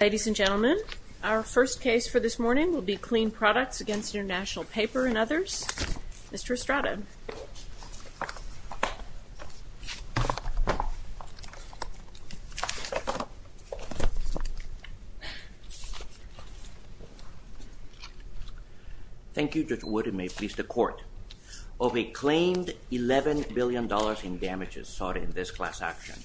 Ladies and gentlemen, our first case for this morning will be Kleen Products against International Paper and others. Mr. Estrada. Thank you Judge Wood, and may it please the Court. Of a claimed $11 billion in damages sought in this class action,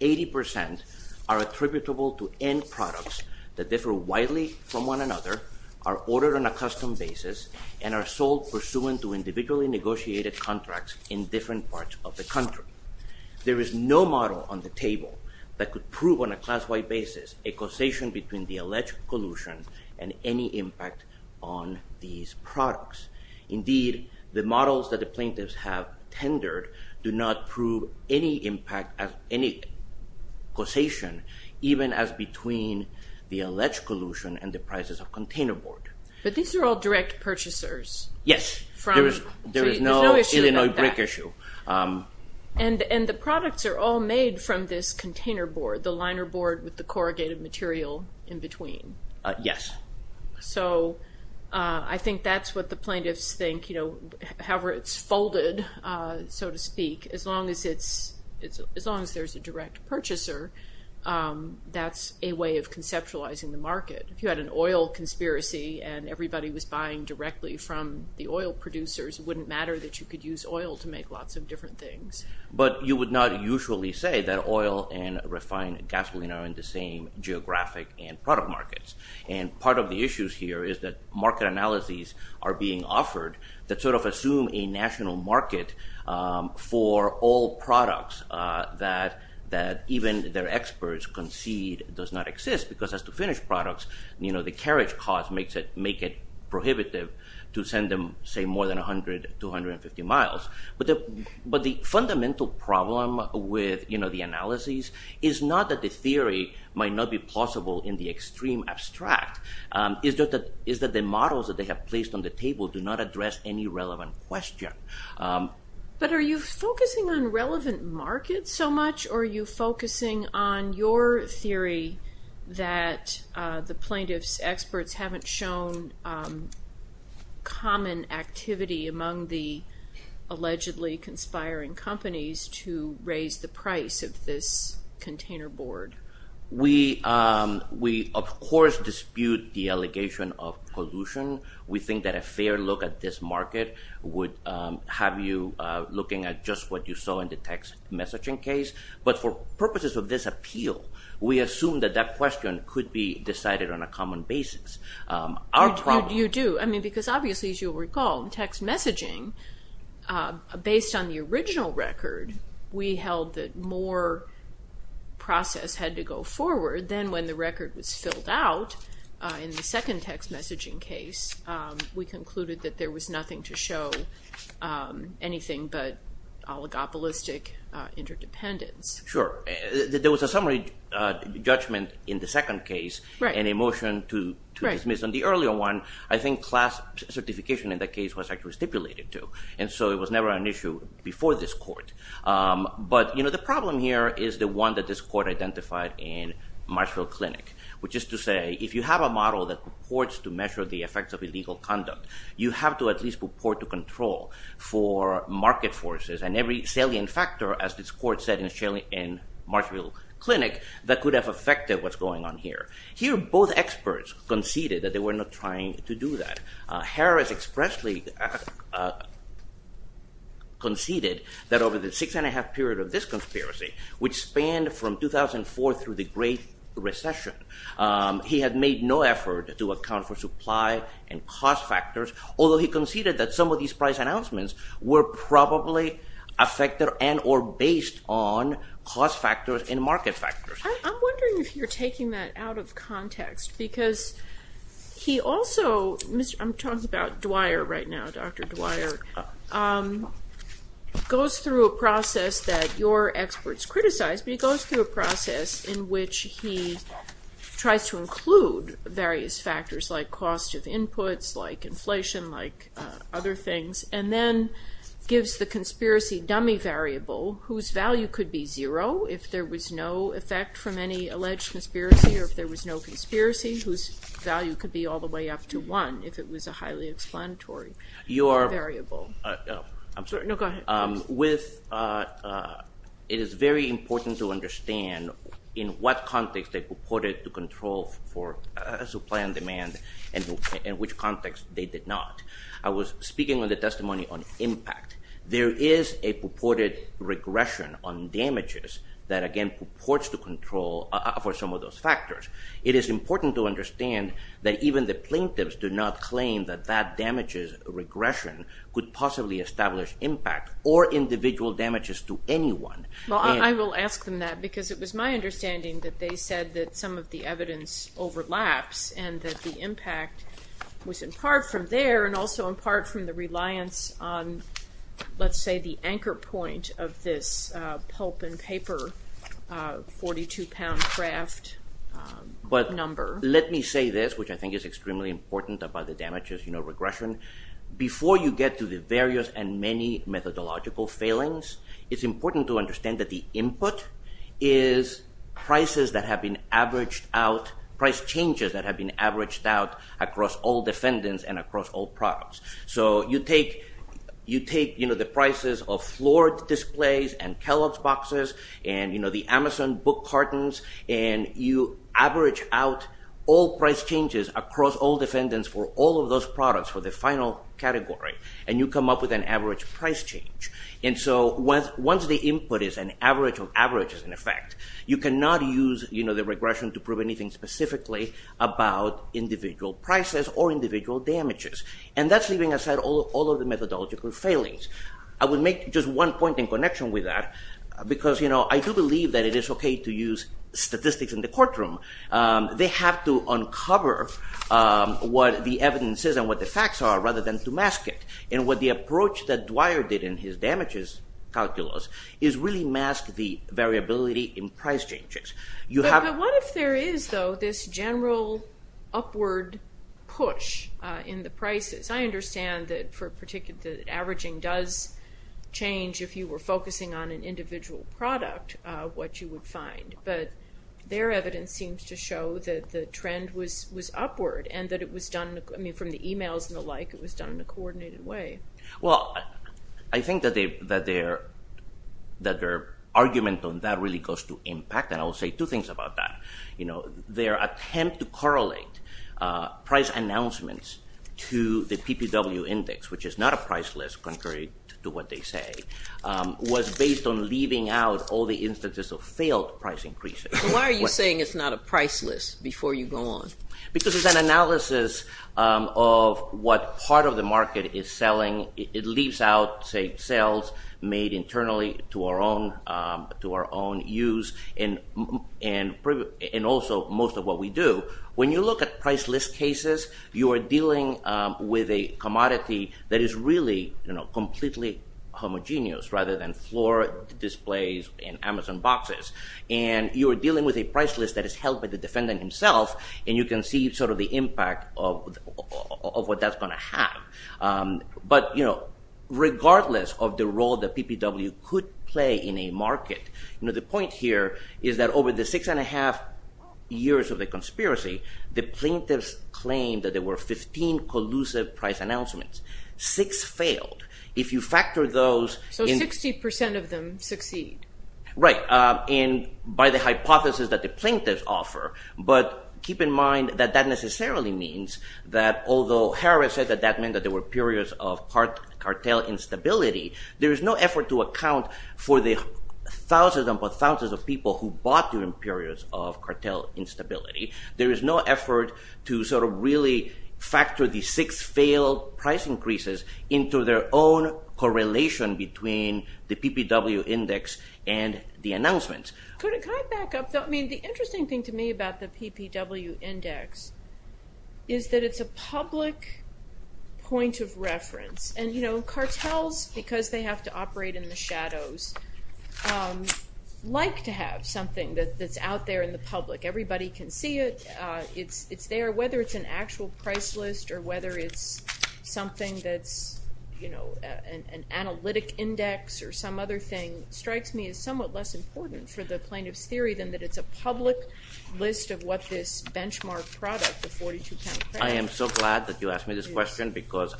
80% are attributable to end products that differ widely from one another, are ordered on a custom basis, and are sold pursuant to individually negotiated contracts in different parts of the country. There is no model on the table that could prove on a class-wide basis a causation between the alleged collusion and any impact on these products. Indeed, the models that the plaintiffs have tendered do not prove any impact, any causation, even as between the alleged collusion and the prices of container board. But these are all direct purchasers. Yes, there is no Illinois brick issue. And the products are all made from this container board, the liner board with the corrugated material in between. Yes. So I think that's what the plaintiffs think, however it's folded, so to speak. As long as there's a direct purchaser, that's a way of conceptualizing the market. If you had an oil conspiracy and everybody was buying directly from the oil producers, it wouldn't matter that you could use oil to make lots of different things. But you would not usually say that oil and refined gasoline are in the same geographic and product markets. And part of the issues here is that market analyses are being offered that sort of assume a national market for all products that even their experts concede does not exist, because as to finished products, the carriage cost makes it prohibitive to send them, say, more than 100 to 150 miles. But the fundamental problem with the analyses is not that the theory might not be possible in the extreme abstract. It's that the models that they have placed on the table do not address any relevant question. But are you focusing on relevant markets so much, or are you focusing on your theory that the plaintiffs' experts haven't shown common activity among the allegedly conspiring companies to raise the price of this container board? We, of course, dispute the allegation of pollution. We think that a fair look at this market would have you looking at just what you saw in the text messaging case. But for purposes of this appeal, we assume that that question could be decided on a common basis. You do. I mean, because obviously, as you'll recall, text messaging, based on the original record, we held that more process had to go forward. Then when the record was filled out in the second text messaging case, we concluded that there was nothing to show anything but oligopolistic interdependence. Sure. There was a summary judgment in the second case and a motion to dismiss. In the earlier one, I think class certification in that case was actually stipulated to, and so it was never an issue before this court. But the problem here is the one that this court identified in Marshall Clinic, which is to say if you have a model that purports to measure the effects of illegal conduct, you have to at least purport to control for market forces. And every salient factor, as this court said in Marshall Clinic, that could have affected what's going on here. Here, both experts conceded that they were not trying to do that. Harris expressly conceded that over the six-and-a-half period of this conspiracy, which spanned from 2004 through the Great Recession, he had made no effort to account for supply and cost factors. Although he conceded that some of these price announcements were probably affected and or based on cost factors and market factors. I'm wondering if you're taking that out of context because he also, I'm talking about Dwyer right now, Dr. Dwyer, goes through a process that your experts criticized, but he goes through a process in which he tries to include various factors like cost of inputs, like inflation, like other things, and then gives the conspiracy dummy variable whose value could be zero if there was no effect from any alleged conspiracy or if there was no conspiracy, whose value could be all the way up to one if it was a highly explanatory variable. I'm sorry. No, go ahead. It is very important to understand in what context they purported to control for supply and demand and in which context they did not. I was speaking on the testimony on impact. There is a purported regression on damages that again purports to control for some of those factors. It is important to understand that even the plaintiffs do not claim that that damages regression could possibly establish impact or individual damages to anyone. Well, I will ask them that because it was my understanding that they said that some of the evidence overlaps and that the impact was in part from there and also in part from the reliance on, let's say, the anchor point of this pulp and paper 42-pound craft number. Let me say this, which I think is extremely important about the damages regression. Before you get to the various and many methodological failings, it is important to understand that the input is prices that have been averaged out, price changes that have been averaged out across all defendants and across all products. You take the prices of floor displays and Kellogg's boxes and the Amazon book cartons and you average out all price changes across all defendants for all of those products for the final category and you come up with an average price change. Once the input is an average of averages in effect, you cannot use the regression to prove anything specifically about individual prices or individual damages. And that's leaving aside all of the methodological failings. I would make just one point in connection with that because I do believe that it is okay to use statistics in the courtroom. They have to uncover what the evidence is and what the facts are rather than to mask it. And what the approach that Dwyer did in his damages calculus is really mask the variability in price changes. But what if there is, though, this general upward push in the prices? I understand that averaging does change if you were focusing on an individual product what you would find. But their evidence seems to show that the trend was upward and that it was done from the emails and the like, it was done in a coordinated way. Well, I think that their argument on that really goes to impact and I will say two things about that. Their attempt to correlate price announcements to the PPW index, which is not a price list contrary to what they say, was based on leaving out all the instances of failed price increases. Why are you saying it's not a price list before you go on? Because it's an analysis of what part of the market is selling. It leaves out, say, sales made internally to our own use and also most of what we do. When you look at price list cases, you are dealing with a commodity that is really completely homogeneous rather than floor displays and Amazon boxes. You are dealing with a price list that is held by the defendant himself and you can see the impact of what that's going to have. But regardless of the role that PPW could play in a market, the point here is that over the six and a half years of the conspiracy, the plaintiffs claimed that there were 15 collusive price announcements. Six failed. If you factor those in. So 60% of them succeed. Right. And by the hypothesis that the plaintiffs offer, but keep in mind that that necessarily means that although Harris said that that meant that there were periods of cartel instability, there is no effort to account for the thousands upon thousands of people who bought during periods of cartel instability. There is no effort to sort of really factor the six failed price increases into their own correlation between the PPW index and the announcements. Could I back up? I mean, the interesting thing to me about the PPW index is that it's a public point of reference. And, you know, cartels, because they have to operate in the shadows, like to have something that's out there in the public. Everybody can see it. It's there. Whether it's an actual price list or whether it's something that's, you know, an analytic index or some other thing, strikes me as somewhat less important for the plaintiff's theory than that it's a public list of what this benchmark product, the 42-pound credit. I am so glad that you asked me this question because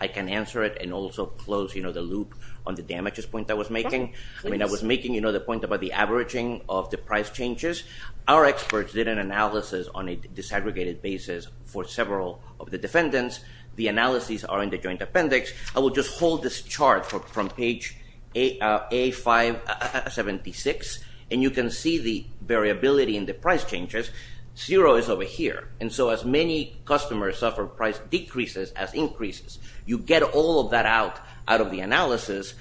I can answer it and also close, you know, the loop on the damages point I was making. I mean, I was making, you know, the point about the averaging of the price changes. Our experts did an analysis on a disaggregated basis for several of the defendants. The analyses are in the joint appendix. I will just hold this chart from page A576, and you can see the variability in the price changes. Zero is over here. And so as many customers suffer price decreases as increases, you get all of that out of the analysis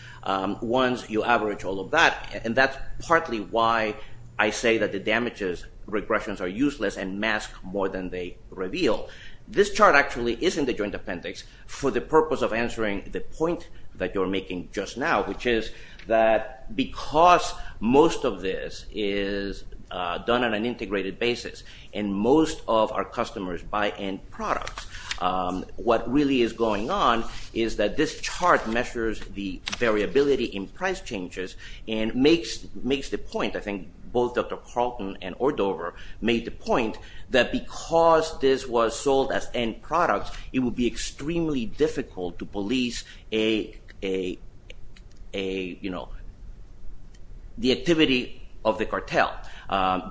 once you average all of that. And that's partly why I say that the damages regressions are useless and mask more than they reveal. This chart actually is in the joint appendix for the purpose of answering the point that you're making just now, which is that because most of this is done on an integrated basis and most of our customers buy end products, what really is going on is that this chart measures the variability in price changes and makes the point, I think both Dr. Carlton and Ordover made the point that because this was sold as end products, it would be extremely difficult to police a, you know, the activity of the cartel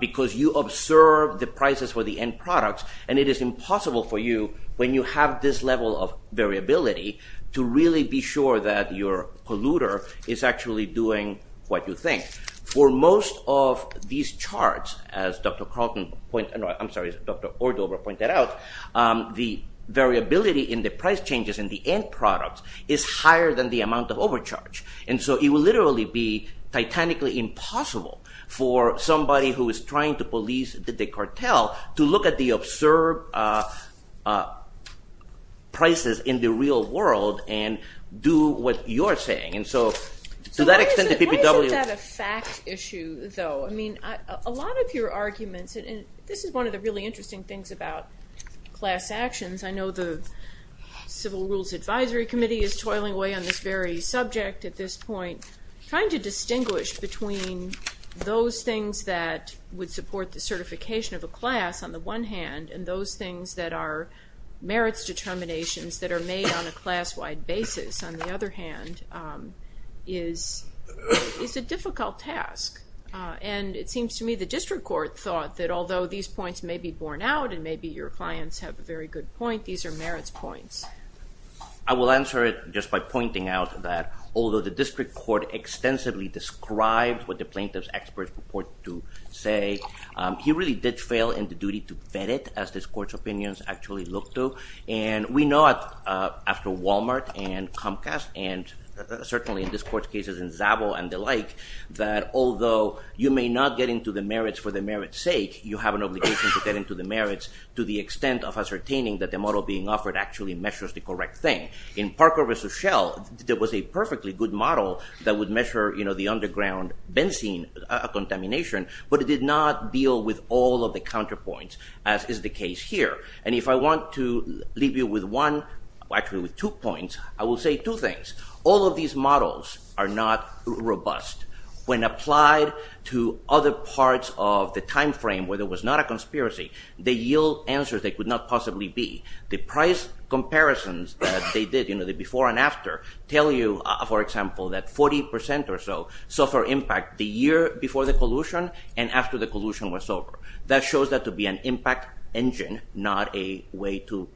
because you observe the prices for the end products, and it is impossible for you when you have this level of variability to really be sure that your polluter is actually doing what you think. For most of these charts, as Dr. Carlton pointed out, I'm sorry, as Dr. Ordover pointed out, the variability in the price changes in the end products is higher than the amount of overcharge. And so it would literally be titanically impossible for somebody who is trying to police the cartel to look at the observed prices in the real world and do what you're saying. And so to that extent, the PPW… So why isn't that a fact issue, though? I mean, a lot of your arguments, and this is one of the really interesting things about class actions. I know the Civil Rules Advisory Committee is toiling away on this very subject at this point. Trying to distinguish between those things that would support the certification of a class, on the one hand, and those things that are merits determinations that are made on a class-wide basis, on the other hand, is a difficult task. And it seems to me the district court thought that although these points may be borne out and maybe your clients have a very good point, these are merits points. I will answer it just by pointing out that although the district court extensively described what the plaintiff's experts purport to say, he really did fail in the duty to vet it, as this court's opinions actually look to. And we know after Walmart and Comcast, and certainly in this court's cases in Zabo and the like, that although you may not get into the merits for the merits sake, you have an obligation to get into the merits to the extent of ascertaining that the model being offered actually measures the correct thing. In Parker versus Shell, there was a perfectly good model that would measure the underground benzene contamination, but it did not deal with all of the counterpoints, as is the case here. And if I want to leave you with one, actually with two points, I will say two things. All of these models are not robust. When applied to other parts of the time frame where there was not a conspiracy, they yield answers that could not possibly be. The price comparisons that they did, you know, the before and after, tell you, for example, that 40% or so suffer impact the year before the collusion and after the collusion was over. That shows that to be an impact engine, not a way to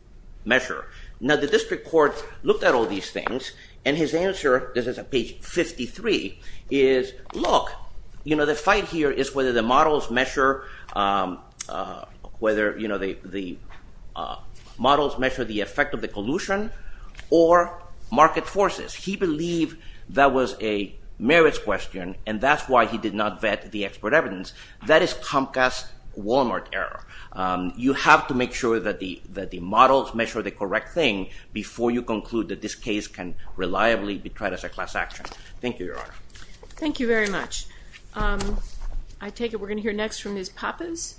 measure. Now, the district court looked at all these things, and his answer, this is at page 53, is, look, you know, the fight here is whether the models measure the effect of the collusion or market forces. He believed that was a merits question, and that's why he did not vet the expert evidence. That is Comcast-Walmart error. You have to make sure that the models measure the correct thing before you conclude that this case can reliably be tried as a class action. Thank you, Your Honor. Thank you very much. I take it we're going to hear next from Ms. Pappas.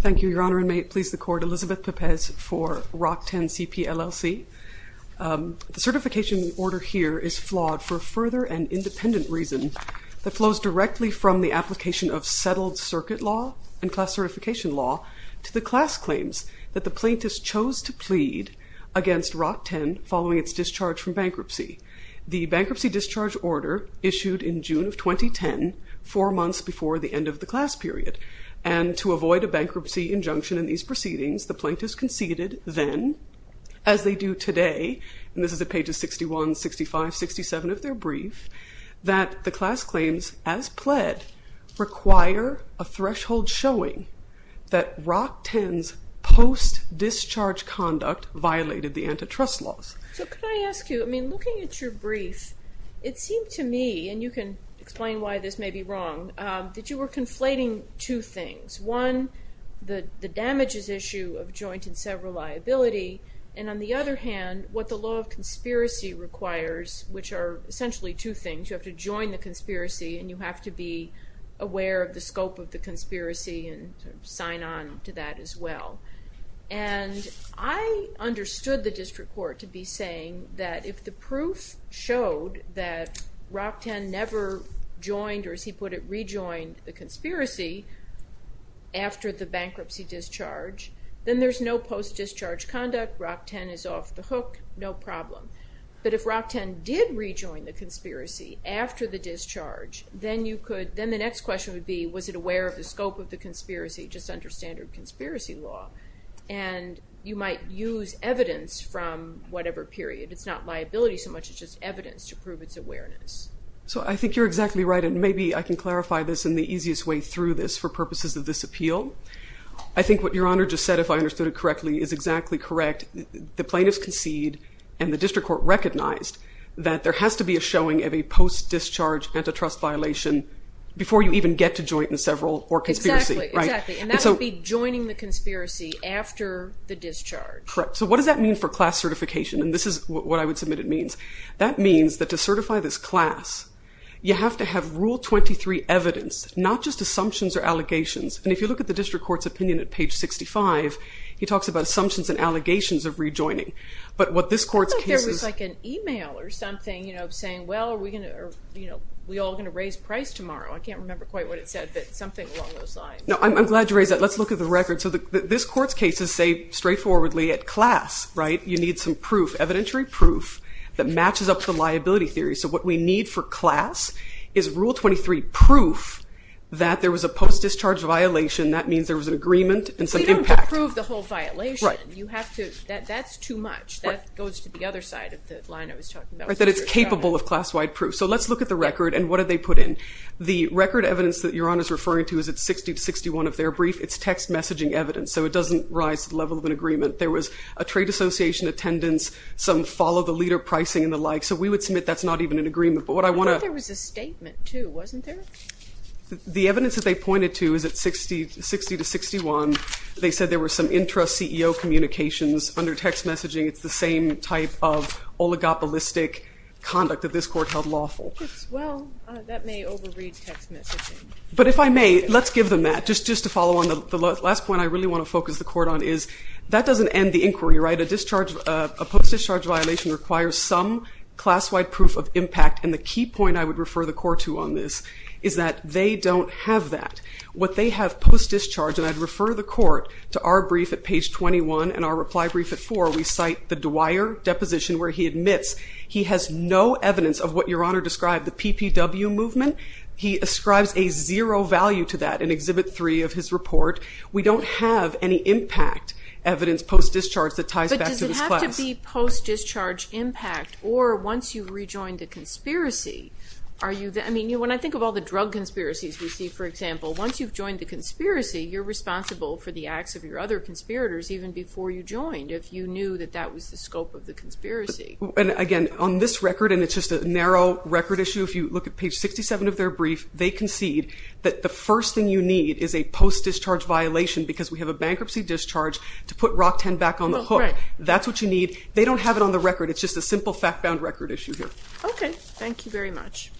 Thank you, Your Honor, and may it please the Court, Elizabeth Pepez for Rock 10 CPLLC. The certification order here is flawed for a further and independent reason that flows directly from the application of settled circuit law and class certification law to the class claims that the plaintiffs chose to plead against Rock 10 following its discharge from bankruptcy. The bankruptcy discharge order issued in June of 2010, four months before the end of the class period, and to avoid a bankruptcy injunction in these proceedings, the plaintiffs conceded then, as they do today, and this is at pages 61, 65, 67 of their brief, that the class claims as pled require a threshold showing that Rock 10's post-discharge conduct violated the antitrust laws. So can I ask you, I mean, looking at your brief, it seemed to me, and you can explain why this may be wrong, that you were conflating two things. One, the damages issue of joint and several liability, and on the other hand, what the law of conspiracy requires, which are essentially two things. You have to join the conspiracy and you have to be aware of the scope of the conspiracy and sign on to that as well. And I understood the district court to be saying that if the proof showed that Rock 10 never joined, or as he put it, rejoined the conspiracy after the bankruptcy discharge, then there's no post-discharge conduct, Rock 10 is off the hook, no problem. But if Rock 10 did rejoin the conspiracy after the discharge, then you could, then the next question would be, was it aware of the scope of the conspiracy, just under standard conspiracy law? And you might use evidence from whatever period. It's not liability so much as just evidence to prove its awareness. So I think you're exactly right, and maybe I can clarify this in the easiest way through this for purposes of this appeal. I think what Your Honor just said, if I understood it correctly, is exactly correct. The plaintiffs concede and the district court recognized that there has to be a showing of a post-discharge antitrust violation before you even get to joint and several or conspiracy. Exactly, and that would be joining the conspiracy after the discharge. Correct. So what does that mean for class certification? And this is what I would submit it means. That means that to certify this class, you have to have Rule 23 evidence, not just assumptions or allegations. And if you look at the district court's opinion at page 65, he talks about assumptions and allegations of rejoining. But what this court's case is... I thought there was like an e-mail or something saying, well, are we all going to raise price tomorrow? I can't remember quite what it said, but something along those lines. No, I'm glad you raised that. Let's look at the record. So this court's case is, say, straightforwardly, at class, right? You need some proof, evidentiary proof that matches up to liability theory. So what we need for class is Rule 23 proof that there was a post-discharge violation. That means there was an agreement and some impact. We don't approve the whole violation. That's too much. That goes to the other side of the line I was talking about. That it's capable of class-wide proof. So let's look at the record and what did they put in. The record evidence that Your Honor is referring to is at 60 to 61 of their brief. It's text messaging evidence, so it doesn't rise to the level of an agreement. There was a trade association attendance, some follow-the-leader pricing and the like. So we would submit that's not even an agreement. But what I want to... I thought there was a statement too, wasn't there? The evidence that they pointed to is at 60 to 61. They said there were some interest CEO communications under text messaging. It's the same type of oligopolistic conduct that this court held lawful. Well, that may overread text messaging. But if I may, let's give them that. Just to follow on, the last point I really want to focus the court on is that doesn't end the inquiry, right? A post-discharge violation requires some class-wide proof of impact. And the key point I would refer the court to on this is that they don't have that. What they have post-discharge, and I'd refer the court to our brief at page 21 and our reply brief at 4. We cite the Dwyer deposition where he admits he has no evidence of what Your Honor described, the PPW movement. He ascribes a zero value to that in Exhibit 3 of his report. We don't have any impact evidence post-discharge that ties back to this class. But does it have to be post-discharge impact or once you rejoin the conspiracy? I mean, when I think of all the drug conspiracies we see, for example, once you've joined the conspiracy, you're responsible for the acts of your other conspirators even before you joined, And again, on this record, and it's just a narrow record issue, if you look at page 67 of their brief, they concede that the first thing you need is a post-discharge violation because we have a bankruptcy discharge to put ROC-10 back on the hook. That's what you need. They don't have it on the record. It's just a simple fact-bound record issue here. Okay. Thank you very much.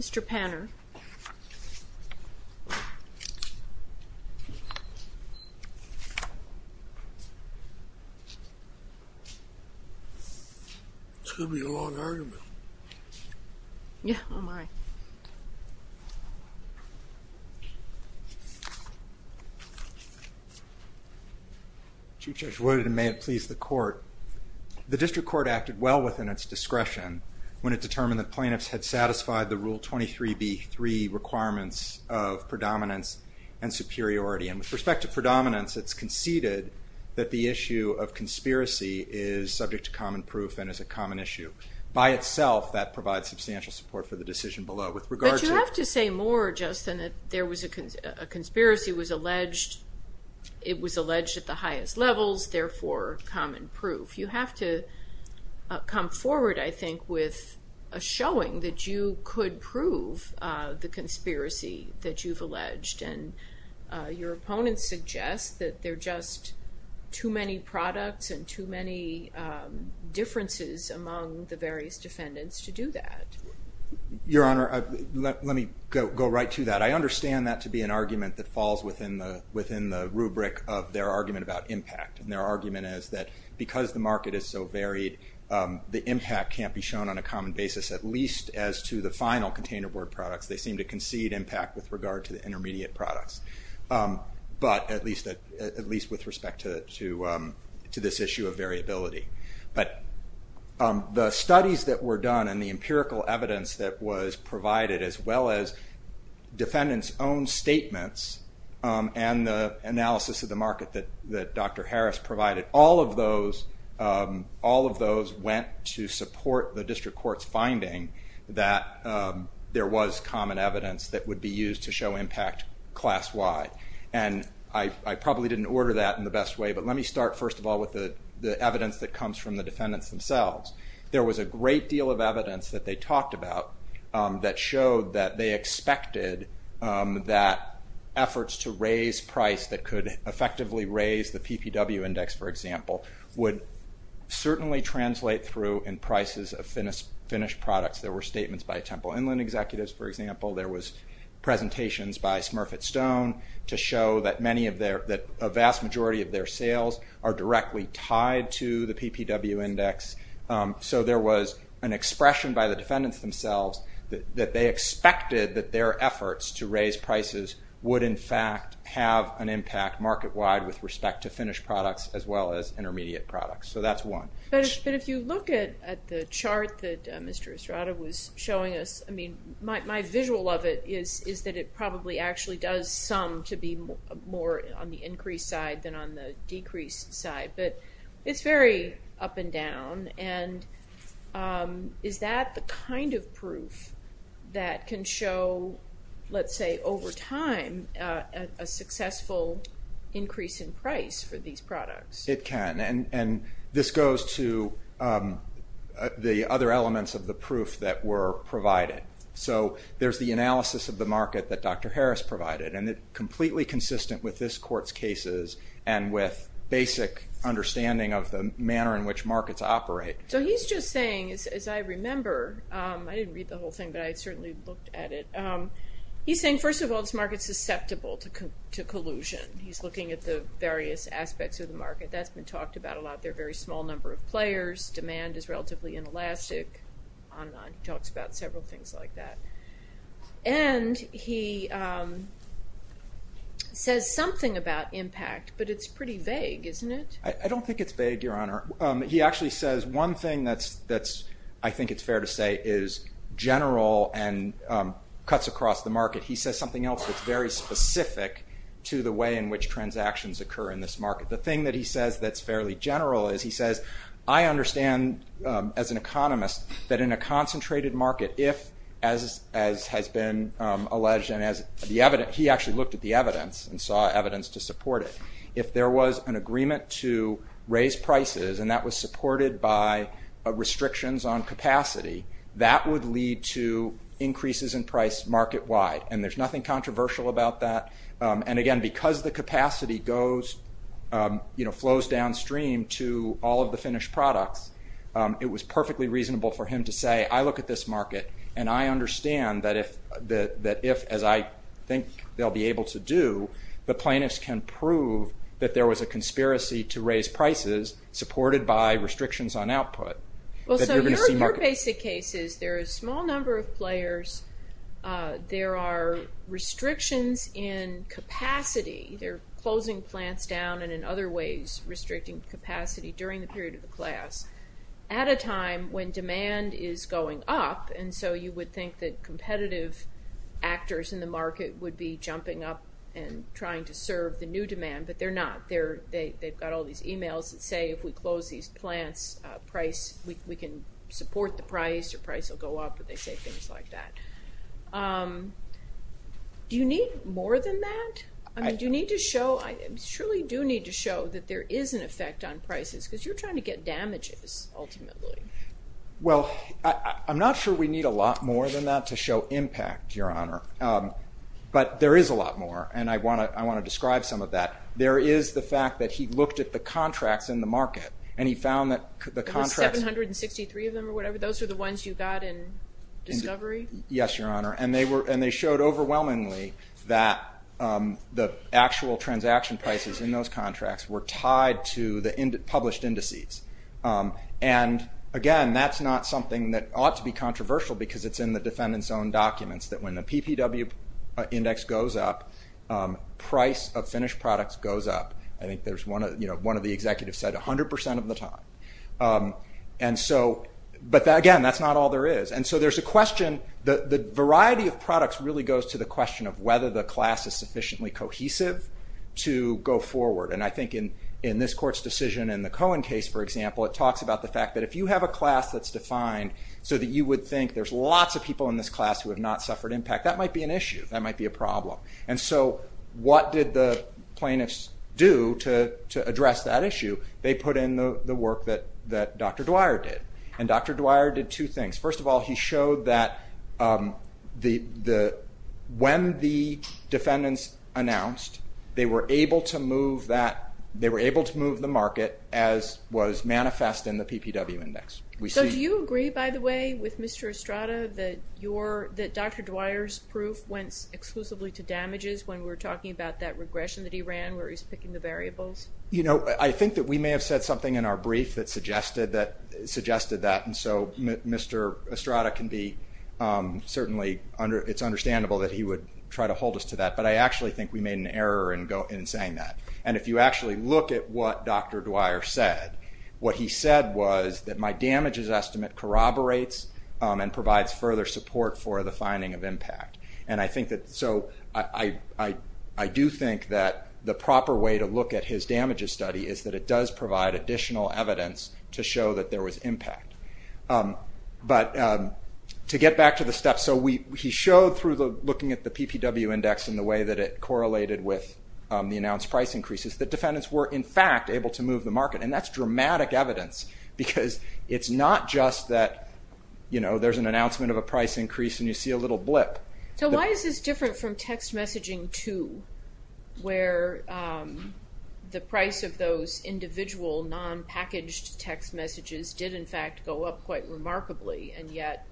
Mr. Panner. This is going to be a long argument. Yeah. Oh, my. Chief Judge Woodard, and may it please the Court. The District Court acted well within its discretion when it determined that plaintiffs had satisfied the Rule 23b3 requirements of predominance and superiority. And with respect to predominance, it's conceded that the issue of conspiracy is subject to common proof and is a common issue. By itself, that provides substantial support for the decision below. But you have to say more, Justin, that there was a conspiracy, it was alleged at the highest levels, therefore, common proof. You have to come forward, I think, with a showing that you could prove the conspiracy that you've alleged. And your opponents suggest that there are just too many products and too many differences among the various defendants to do that. Your Honor, let me go right to that. But I understand that to be an argument that falls within the rubric of their argument about impact. And their argument is that because the market is so varied, the impact can't be shown on a common basis, at least as to the final container board products. They seem to concede impact with regard to the intermediate products. But at least with respect to this issue of variability. But the studies that were done and the empirical evidence that was provided, as well as defendants' own statements and the analysis of the market that Dr. Harris provided, all of those went to support the district court's finding that there was common evidence that would be used to show impact class-wide. And I probably didn't order that in the best way, but let me start first of all with the evidence that comes from the defendants themselves. There was a great deal of evidence that they talked about that showed that they expected that efforts to raise price that could effectively raise the PPW index, for example, would certainly translate through in prices of finished products. There were statements by Temple Inland executives, for example. There were presentations by Smurfit Stone to show that a vast majority of their sales are directly tied to the PPW index. So there was an expression by the defendants themselves that they expected that their efforts to raise prices would in fact have an impact market-wide with respect to finished products as well as intermediate products. So that's one. But if you look at the chart that Mr. Estrada was showing us, my visual of it is that it probably actually does sum to be more on the increased side than on the decreased side. But it's very up and down, and is that the kind of proof that can show, let's say, over time a successful increase in price for these products? It can. And this goes to the other elements of the proof that were provided. So there's the analysis of the market that Dr. Harris provided, and it's completely consistent with this court's cases and with basic understanding of the manner in which markets operate. So he's just saying, as I remember, I didn't read the whole thing, but I certainly looked at it. He's saying, first of all, this market's susceptible to collusion. He's looking at the various aspects of the market. That's been talked about a lot. There are a very small number of players. Demand is relatively inelastic. He talks about several things like that. And he says something about impact, but it's pretty vague, isn't it? I don't think it's vague, Your Honor. He actually says one thing that I think it's fair to say is general and cuts across the market. He says something else that's very specific to the way in which transactions occur in this market. The thing that he says that's fairly general is he says, I understand as an economist that in a concentrated market, if, as has been alleged and he actually looked at the evidence and saw evidence to support it, if there was an agreement to raise prices and that was supported by restrictions on capacity, that would lead to increases in price market-wide. And there's nothing controversial about that. And, again, because the capacity flows downstream to all of the finished products, it was perfectly reasonable for him to say, I look at this market and I understand that if, as I think they'll be able to do, the plaintiffs can prove that there was a conspiracy to raise prices supported by restrictions on output. Well, so your basic case is there are a small number of players. There are restrictions in capacity. They're closing plants down and in other ways restricting capacity during the period of the class at a time when demand is going up. And so you would think that competitive actors in the market would be jumping up and trying to serve the new demand, but they're not. They've got all these emails that say if we close these plants, we can support the price, the price will go up, and they say things like that. Do you need more than that? I mean, do you need to show, I surely do need to show that there is an effect on prices because you're trying to get damages ultimately. Well, I'm not sure we need a lot more than that to show impact, Your Honor. But there is a lot more, and I want to describe some of that. There is the fact that he looked at the contracts in the market and he found that the contracts. The 763 of them or whatever, those are the ones you got in discovery? Yes, Your Honor, and they showed overwhelmingly that the actual transaction prices in those contracts were tied to the published indices. And again, that's not something that ought to be controversial because it's in the defendant's own documents that when the PPW index goes up, price of finished products goes up. I think one of the executives said 100% of the time. But again, that's not all there is. And so there's a question, the variety of products really goes to the question of whether the class is sufficiently cohesive to go forward. And I think in this Court's decision in the Cohen case, for example, it talks about the fact that if you have a class that's defined so that you would think there's lots of people in this class who have not suffered impact, that might be an issue, that might be a problem. And so what did the plaintiffs do to address that issue? They put in the work that Dr. Dwyer did. And Dr. Dwyer did two things. First of all, he showed that when the defendants announced, they were able to move the market as was manifest in the PPW index. So do you agree, by the way, with Mr. Estrada that Dr. Dwyer's proof went exclusively to damages when we're talking about that regression that he ran where he's picking the variables? You know, I think that we may have said something in our brief that suggested that. And so Mr. Estrada can be certainly, it's understandable that he would try to hold us to that. But I actually think we made an error in saying that. And if you actually look at what Dr. Dwyer said, what he said was that my damages estimate corroborates and provides further support for the finding of impact. And so I do think that the proper way to look at his damages study is that it does provide additional evidence to show that there was impact. But to get back to the steps, so he showed through looking at the PPW index and the way that it correlated with the announced price increases that defendants were, in fact, able to move the market. And that's dramatic evidence. Because it's not just that there's an announcement of a price increase and you see a little blip. So why is this different from text messaging too? Where the price of those individual non-packaged text messages did, in fact, go up quite remarkably. And yet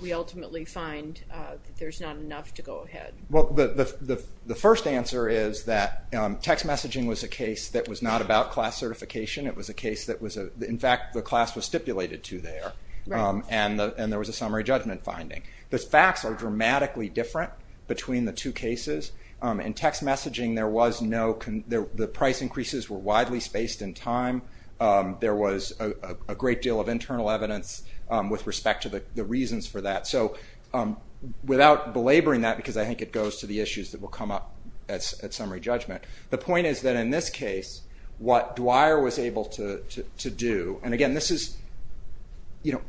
we ultimately find that there's not enough to go ahead. Well, the first answer is that text messaging was a case that was not about class certification. It was a case that, in fact, the class was stipulated to there. And there was a summary judgment finding. The facts are dramatically different between the two cases. In text messaging, the price increases were widely spaced in time. There was a great deal of internal evidence with respect to the reasons for that. So without belaboring that, because I think it goes to the issues that will come up at summary judgment, the point is that in this case, what Dwyer was able to do, and again, this is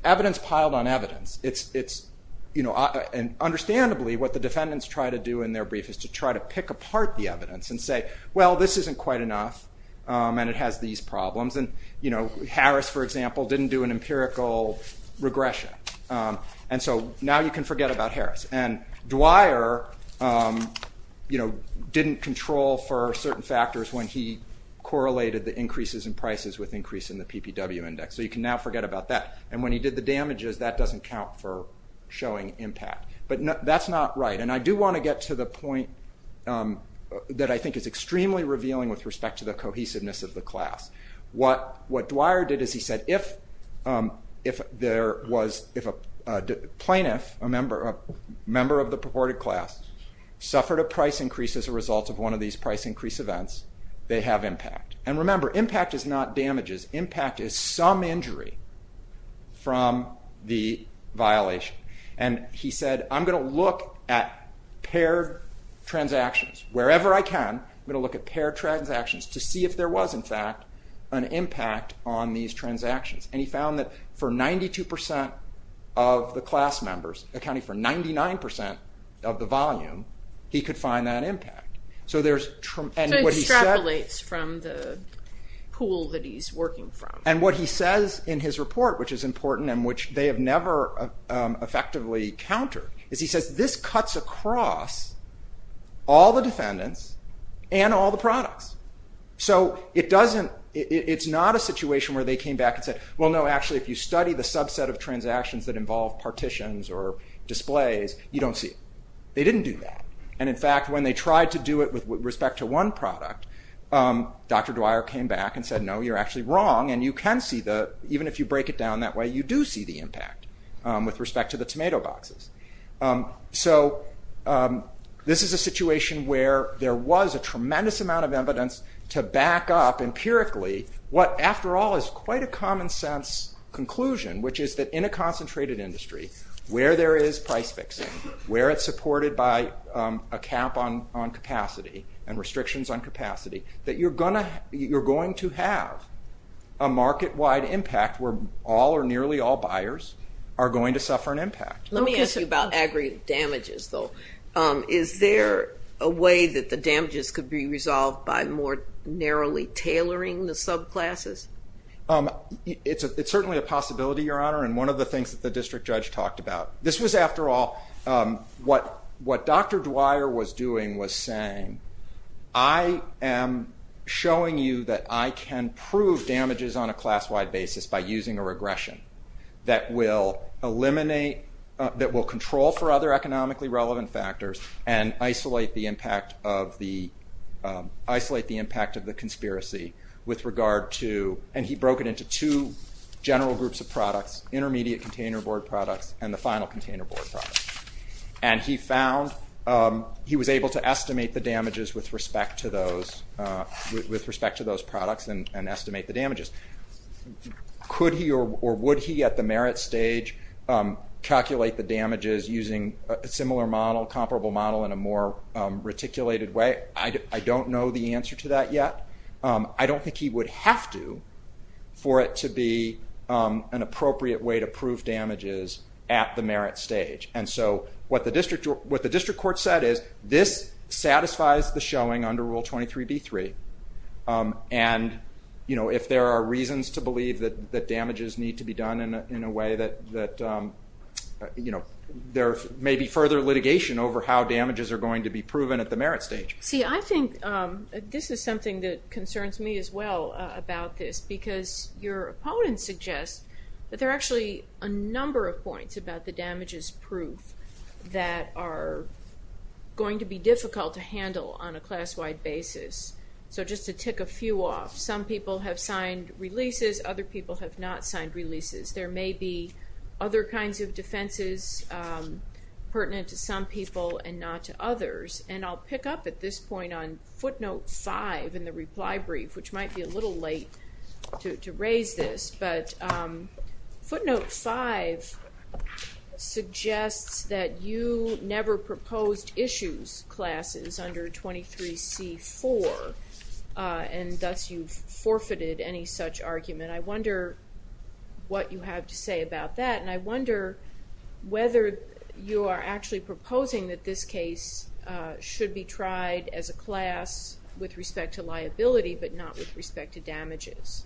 evidence piled on evidence. And understandably, what the defendants try to do in their brief is to try to pick apart the evidence and say, well, this isn't quite enough and it has these problems. And Harris, for example, didn't do an empirical regression. And so now you can forget about Harris. And Dwyer didn't control for certain factors when he correlated the increases in prices with increase in the PPW index. So you can now forget about that. And when he did the damages, that doesn't count for showing impact. But that's not right. And I do want to get to the point that I think is extremely revealing with respect to the cohesiveness of the class. What Dwyer did is he said, if a plaintiff, a member of the purported class, suffered a price increase as a result of one of these price increase events, they have impact. And remember, impact is not damages. Impact is some injury from the violation. And he said, I'm going to look at paired transactions, wherever I can, I'm going to look at paired transactions to see if there was, in fact, an impact on these transactions. And he found that for 92% of the class members, accounting for 99% of the volume, he could find that impact. So there's tremendous... So he extrapolates from the pool that he's working from. And what he says in his report, which is important and which they have never effectively countered, is he says this cuts across all the defendants and all the products. So it doesn't... It's not a situation where they came back and said, well, no, actually, if you study the subset of transactions that involve partitions or displays, you don't see it. They didn't do that. And in fact, when they tried to do it with respect to one product, Dr. Dwyer came back and said, no, you're actually wrong. And you can see the... Even if you break it down that way, you do see the impact with respect to the tomato boxes. So this is a situation where there was a tremendous amount of evidence to back up empirically what, after all, is quite a common sense conclusion, which is that in a concentrated industry, where there is price fixing, where it's supported by a cap on capacity and restrictions on capacity, that you're going to have a market-wide impact where all or nearly all buyers are going to suffer an impact. Let me ask you about aggregate damages, though. Is there a way that the damages could be resolved by more narrowly tailoring the subclasses? It's certainly a possibility, Your Honor, and one of the things that the district judge talked about. This was, after all, what Dr. Dwyer was doing was saying, I am showing you that I can prove damages on a class-wide basis by using a regression that will eliminate, that will control for other economically relevant factors and isolate the impact of the conspiracy with regard to... And he broke it into two general groups of products, intermediate container board products and the final container board products. And he found... He was able to estimate the damages with respect to those products and estimate the damages. Could he or would he at the merit stage calculate the damages using a similar model, comparable model, in a more reticulated way? I don't know the answer to that yet. I don't think he would have to for it to be an appropriate way to prove damages at the merit stage. And so what the district court said is, this satisfies the showing under Rule 23b-3 and if there are reasons to believe that damages need to be done in a way that there may be further litigation over how damages are going to be proven at the merit stage. See, I think this is something that concerns me as well about this because your opponent suggests that there are actually a number of points about the damages proof that are going to be difficult to handle on a class-wide basis so just to tick a few off. Some people have signed releases. Other people have not signed releases. There may be other kinds of defenses pertinent to some people and not to others. And I'll pick up at this point on footnote 5 in the reply brief, which might be a little late to raise this, but footnote 5 suggests that you never proposed issues classes under 23c-4 and thus you've forfeited any such argument. I wonder what you have to say about that and I wonder whether you are actually proposing that this case should be tried as a class with respect to liability but not with respect to damages.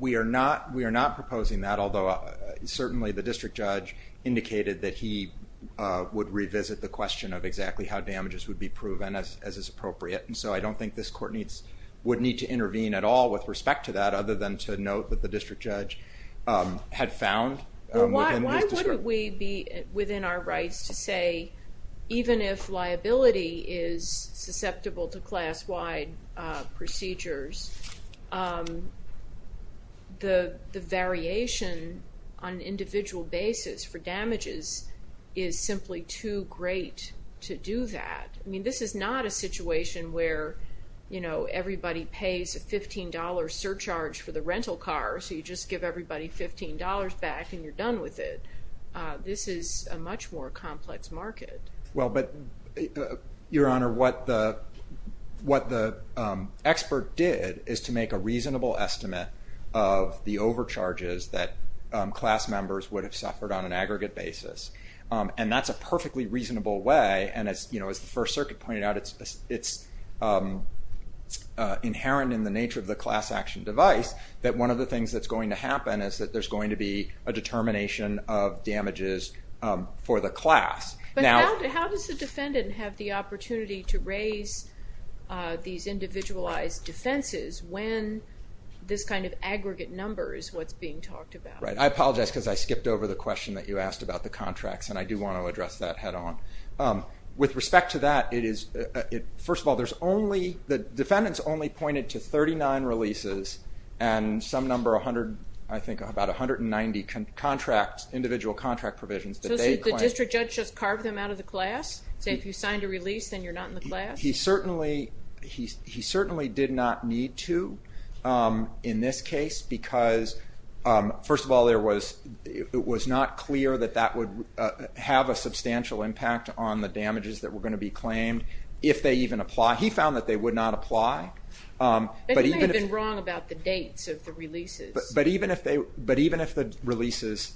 We are not proposing that, although certainly the district judge indicated that he would revisit the question of exactly how damages would be proven as is appropriate and so I don't think this court would need to intervene at all with respect to that other than to note that the district judge had found within his discretion. Why wouldn't we be within our rights to say even if liability is susceptible to class-wide procedures, the variation on an individual basis for damages is simply too great to do that. I mean, this is not a situation where, you know, everybody pays a $15 surcharge for the rental car so you just give everybody $15 back and you're done with it. This is a much more complex market. Well, but, Your Honor, what the expert did is to make a reasonable estimate of the overcharges that class members would have suffered on an aggregate basis and that's a perfectly reasonable way and as the First Circuit pointed out, it's inherent in the nature of the class action device that one of the things that's going to happen is that there's going to be a determination of damages for the class. But how does the defendant have the opportunity to raise these individualized defenses when this kind of aggregate number is what's being talked about? Right, I apologize because I skipped over the question that you asked about the contracts and I do want to address that head-on. With respect to that, first of all, the defendant's only pointed to 39 releases and some number, I think about 190 individual contract provisions. So the district judge just carved them out of the class? Say if you signed a release, then you're not in the class? He certainly did not need to in this case because first of all, it was not clear that that would have a substantial impact on the damages that were going to be claimed if they even apply. He found that they would not apply. But he may have been wrong about the dates of the releases. But even if the releases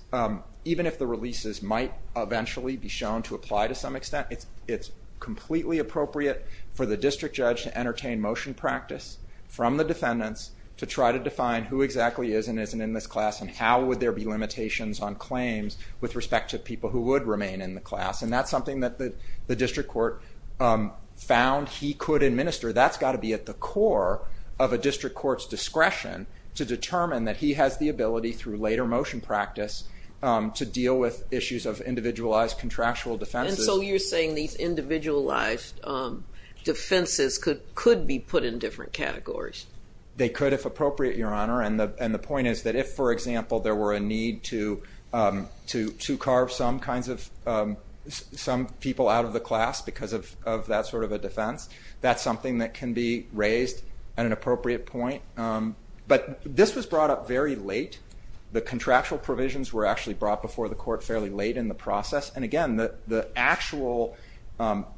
might eventually be shown to apply to some extent, it's completely appropriate for the district judge to entertain motion practice from the defendants to try to define who exactly is and isn't in this class and how would there be limitations on claims with respect to people who would remain in the class. And that's something that the district court found he could administer. That's got to be at the core of a district court's discretion to determine that he has the ability through later motion practice to deal with issues of individualized contractual defenses. So you're saying these individualized defenses could be put in different categories? They could, if appropriate, Your Honor. And the point is that if, for example, there were a need to carve some people out of the class because of that sort of a defense, that's something that can be raised at an appropriate point. But this was brought up very late. The contractual provisions were actually brought before the court fairly late in the process. And again, the actual...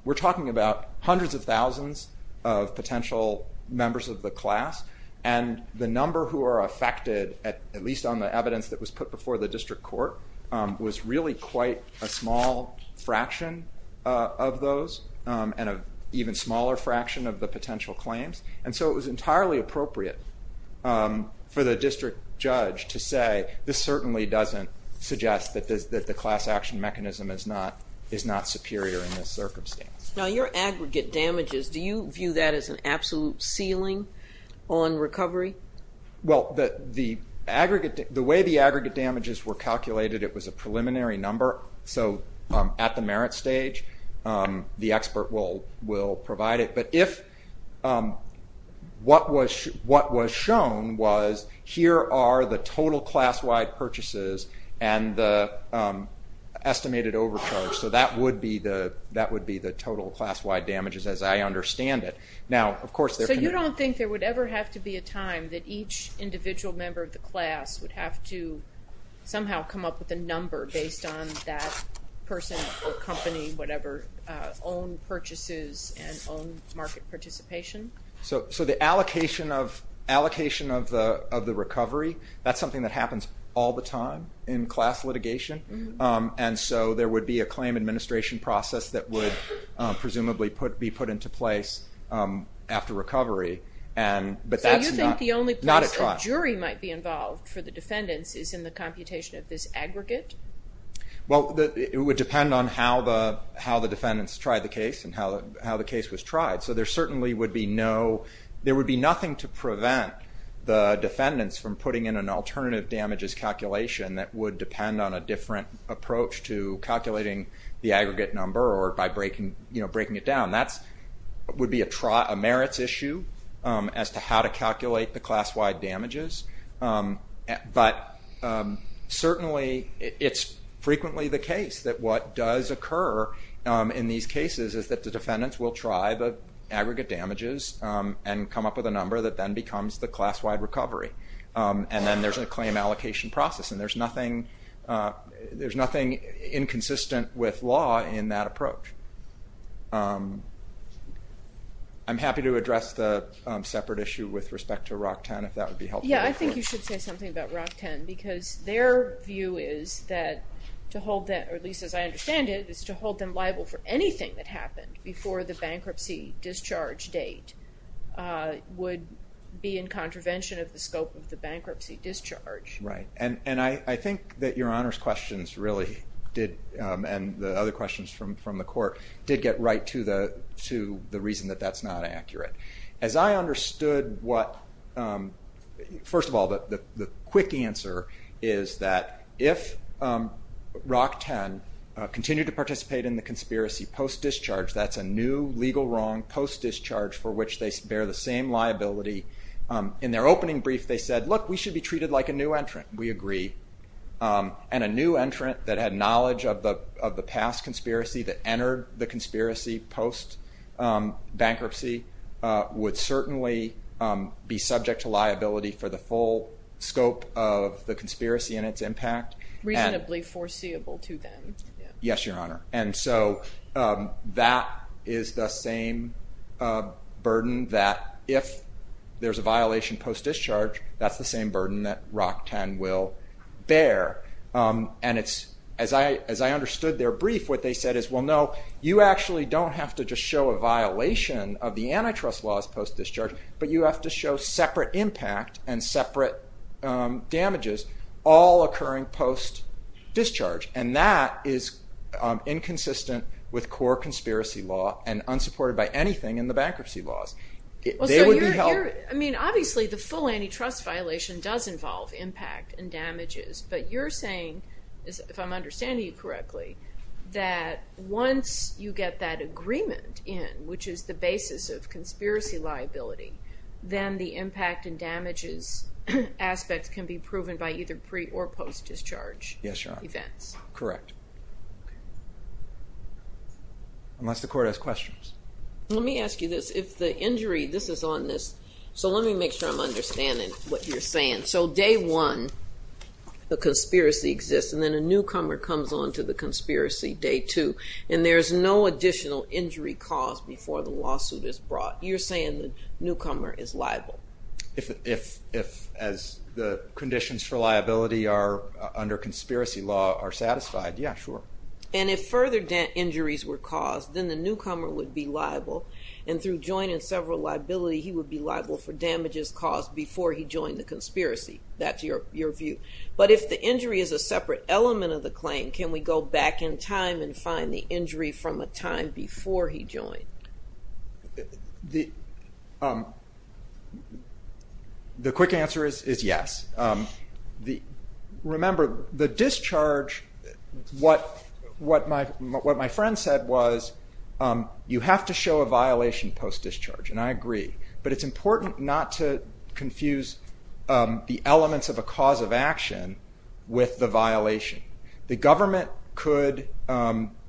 We're talking about hundreds of thousands of potential members of the class, and the number who are affected, at least on the evidence that was put before the district court, was really quite a small fraction of those and an even smaller fraction of the potential claims. And so it was entirely appropriate for the district judge to say, this certainly doesn't suggest that the class action mechanism is not superior in this circumstance. Now, your aggregate damages, do you view that as an absolute ceiling on recovery? Well, the way the aggregate damages were calculated, it was a preliminary number. So at the merit stage, the expert will provide it. But what was shown was, here are the total class-wide purchases and the estimated overcharge. So that would be the total class-wide damages, as I understand it. So you don't think there would ever have to be a time that each individual member of the class would have to somehow come up with a number based on that person or company, whatever, own purchases and own market participation? So the allocation of the recovery, that's something that happens all the time in class litigation. And so there would be a claim administration process that would presumably be put into place after recovery. So you think the only place a jury might be involved for the defendants is in the computation of this aggregate? Well, it would depend on how the defendants tried the case and how the case was tried. So there certainly would be no, there would be nothing to prevent the defendants from putting in an alternative damages calculation that would depend on a different approach to calculating the aggregate number or by breaking it down. That would be a merits issue as to how to calculate the class-wide damages. But certainly it's frequently the case that what does occur in these cases is that the defendants will try the aggregate damages and come up with a number that then becomes the class-wide recovery. And then there's a claim allocation process and there's nothing inconsistent with law in that approach. I'm happy to address the separate issue with respect to ROC-10 if that would be helpful. Yeah, I think you should say something about ROC-10 because their view is that to hold them, or at least as I understand it, is to hold them liable for anything that happened before the bankruptcy discharge date would be in contravention of the scope of the bankruptcy discharge. Right, and I think that Your Honor's questions really did, and the other questions from the Court, did get right to the reason that that's not accurate. As I understood what, first of all, the quick answer is that if ROC-10 continued to participate in the conspiracy post-discharge, that's a new legal wrong post-discharge for which they bear the same liability. In their opening brief they said, look, we should be treated like a new entrant. We agree. And a new entrant that had knowledge of the past conspiracy, that entered the conspiracy post-bankruptcy, would certainly be subject to liability for the full scope of the conspiracy and its impact. Reasonably foreseeable to them. Yes, Your Honor. And so that is the same burden that if there's a violation post-discharge, that's the same burden that ROC-10 will bear. And as I understood their brief, what they said is, well, no, you actually don't have to just show a violation of the antitrust laws post-discharge, but you have to show separate impact and separate damages, all occurring post-discharge. And that is inconsistent with core conspiracy law and unsupported by anything in the bankruptcy laws. They would be held... I mean, obviously the full antitrust violation does involve impact and damages, but you're saying, if I'm understanding you correctly, that once you get that agreement in, which is the basis of conspiracy liability, then the impact and damages aspects can be proven by either pre- or post-discharge events. Yes, Your Honor. Correct. Unless the court has questions. Let me ask you this. If the injury... This is on this, so let me make sure I'm understanding what you're saying. So day one, the conspiracy exists, and then a newcomer comes on to the conspiracy day two, and there's no additional injury cause before the lawsuit is brought. You're saying the newcomer is liable. If, as the conditions for liability are under conspiracy law, are satisfied, yeah, sure. And if further injuries were caused, then the newcomer would be liable, and through joint and several liability, he would be liable for damages caused before he joined the conspiracy. That's your view. But if the injury is a separate element of the claim, can we go back in time and find the injury from a time before he joined? The quick answer is yes. Remember, the discharge, what my friend said was, you have to show a violation post-discharge, and I agree. But it's important not to confuse the elements of a cause of action with the violation. The government could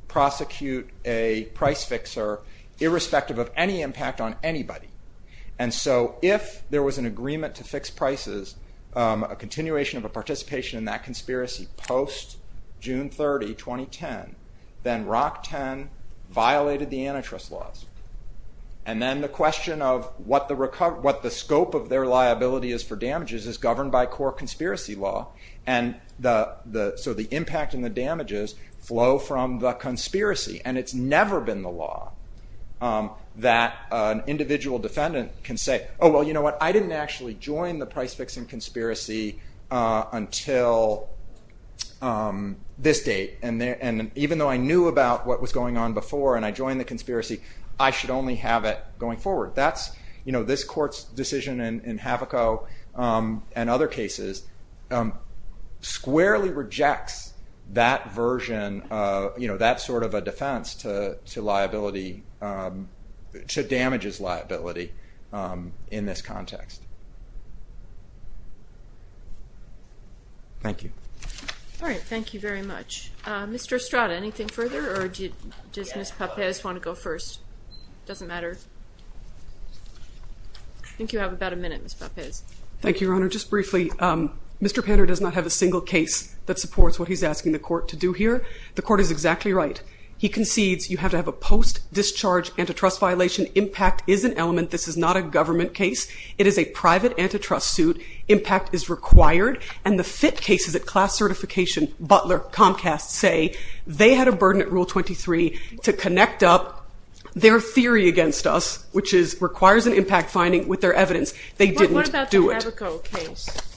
prosecute a price fixer irrespective of any impact on anybody. And so if there was an agreement to fix prices, a continuation of a participation in that conspiracy post-June 30, 2010, then ROC-10 violated the antitrust laws. And then the question of what the scope of their liability is for damages is governed by core conspiracy law, and so the impact and the damages flow from the conspiracy, and it's never been the law that an individual defendant can say, oh, well, you know what, I didn't actually join the price-fixing conspiracy until this date, and even though I knew about what was going on before and I joined the conspiracy, I should only have it going forward. This court's decision in Havoco and other cases squarely rejects that version, and that's sort of a defense to liability, to damages liability in this context. Thank you. All right, thank you very much. Mr. Estrada, anything further, or does Ms. Pappes want to go first? Doesn't matter. I think you have about a minute, Ms. Pappes. Thank you, Your Honor. Just briefly, Mr. Panner does not have a single case that supports what he's asking the court to do here, the court is exactly right. He concedes you have to have a post-discharge antitrust violation. Impact is an element. This is not a government case. It is a private antitrust suit. Impact is required, and the FIT cases at class certification, Butler, Comcast, say they had a burden at Rule 23 to connect up their theory against us, which requires an impact finding, with their evidence. They didn't do it. What about the Havoco case?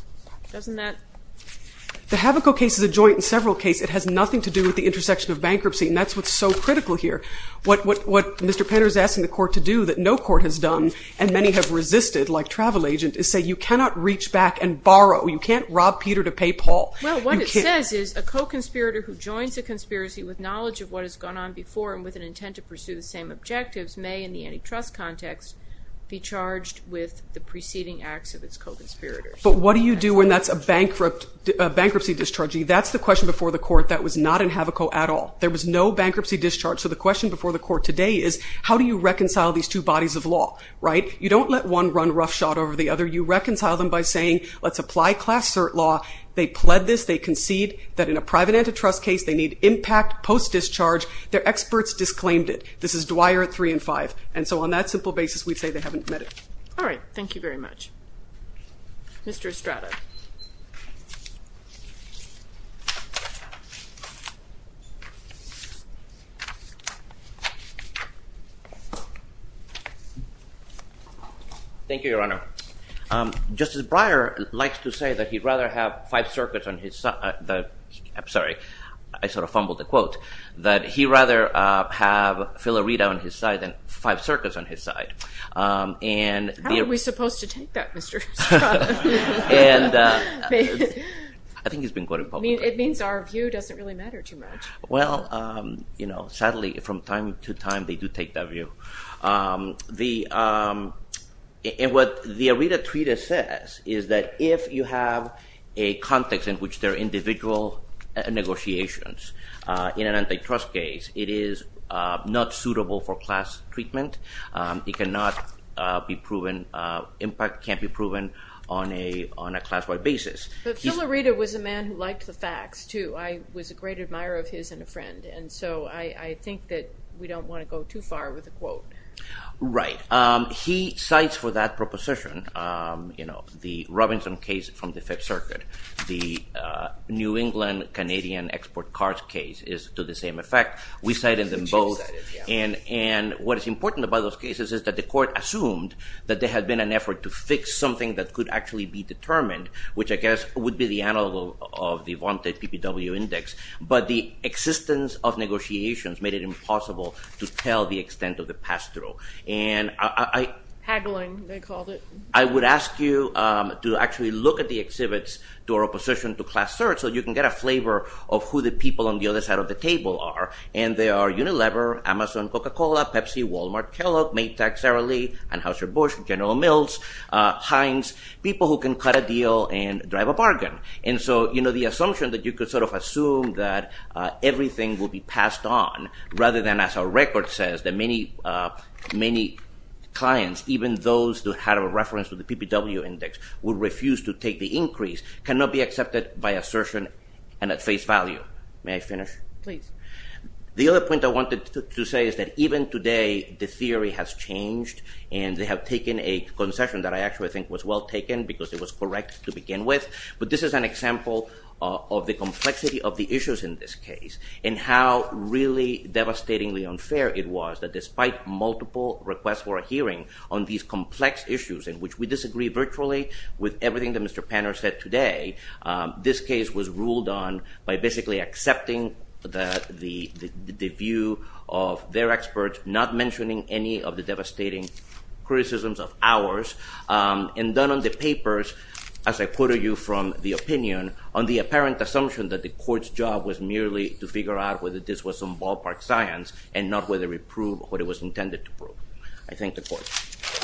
The Havoco case is a joint and several case. It has nothing to do with the intersection of bankruptcy, and that's what's so critical here. What Mr. Panner is asking the court to do, that no court has done, and many have resisted, like travel agent, is say you cannot reach back and borrow. You can't rob Peter to pay Paul. Well, what it says is, a co-conspirator who joins a conspiracy with knowledge of what has gone on before and with an intent to pursue the same objectives may, in the antitrust context, be charged with the preceding acts of its co-conspirators. But what do you do when that's a bankruptcy discharge? That's the question before the court that was not in Havoco at all. There was no bankruptcy discharge, so the question before the court today is, how do you reconcile these two bodies of law? You don't let one run roughshod over the other. You reconcile them by saying, let's apply class cert law. They pled this. They concede that in a private antitrust case, they need impact post-discharge. Their experts disclaimed it. This is Dwyer 3 and 5. And so on that simple basis, we'd say they haven't met it. All right. Thank you very much. Mr. Estrada. Thank you, Your Honor. Justice Breyer likes to say that he'd rather have five circuits on his side. I'm sorry. I sort of fumbled the quote. That he'd rather have Filarita on his side than five circuits on his side. How are we supposed to take that, Mr. Estrada? I think he's been quoted publicly. I mean, it means our view doesn't really matter too much. Well, you know, sadly, from time to time, they do take that view. And what the Arita Treatise says is that if you have a context in which there are individual negotiations in an antitrust case, it is not suitable for class treatment. It cannot be proven, impact can't be proven on a class-wide basis. But Filarita was a man who liked the facts, too. I was a great admirer of his and a friend. And so I think that we don't want to go too far with the quote. Right. He cites for that proposition, you know, the Robinson case from the Fifth Circuit. The New England Canadian export cars case is to the same effect. We cited them both. And what is important about those cases is that the court assumed that there had been an effort to fix something that could actually be determined, which I guess would be the analog of the wanted PPW index, but the existence of negotiations made it impossible to tell the extent of the pass-through. And I... Haggling, they called it. I would ask you to actually look at the exhibits to our opposition to Class III so you can get a flavor of who the people on the other side of the table are. And they are Unilever, Amazon Coca-Cola, Pepsi, Walmart, Kellogg, Maytag, Sara Lee, Anheuser-Busch, General Mills, Heinz, people who can cut a deal and drive a bargain. And so, you know, the assumption that you could sort of assume that everything will be passed on rather than, as our record says, that many clients, even those who had a reference to the PPW index, would refuse to take the increase cannot be accepted by assertion and at face value. May I finish? Please. The other point I wanted to say is that even today the theory has changed and they have taken a concession that I actually think was well taken because it was correct to begin with. But this is an example of the complexity of the issues in this case and how really devastatingly unfair it was that despite multiple requests for a hearing on these complex issues in which we disagree virtually with everything that Mr. Panner said today, this case was ruled on by basically accepting the view of their experts, not mentioning any of the devastating criticisms of ours, and done on the papers, as I quoted you from the opinion, on the apparent assumption that the court's job was merely to figure out whether this was some ballpark science and not whether it proved what it was intended to prove. I thank the court.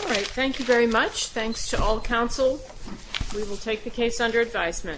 All right. Thank you very much. Thanks to all counsel. We will take the case under advisement.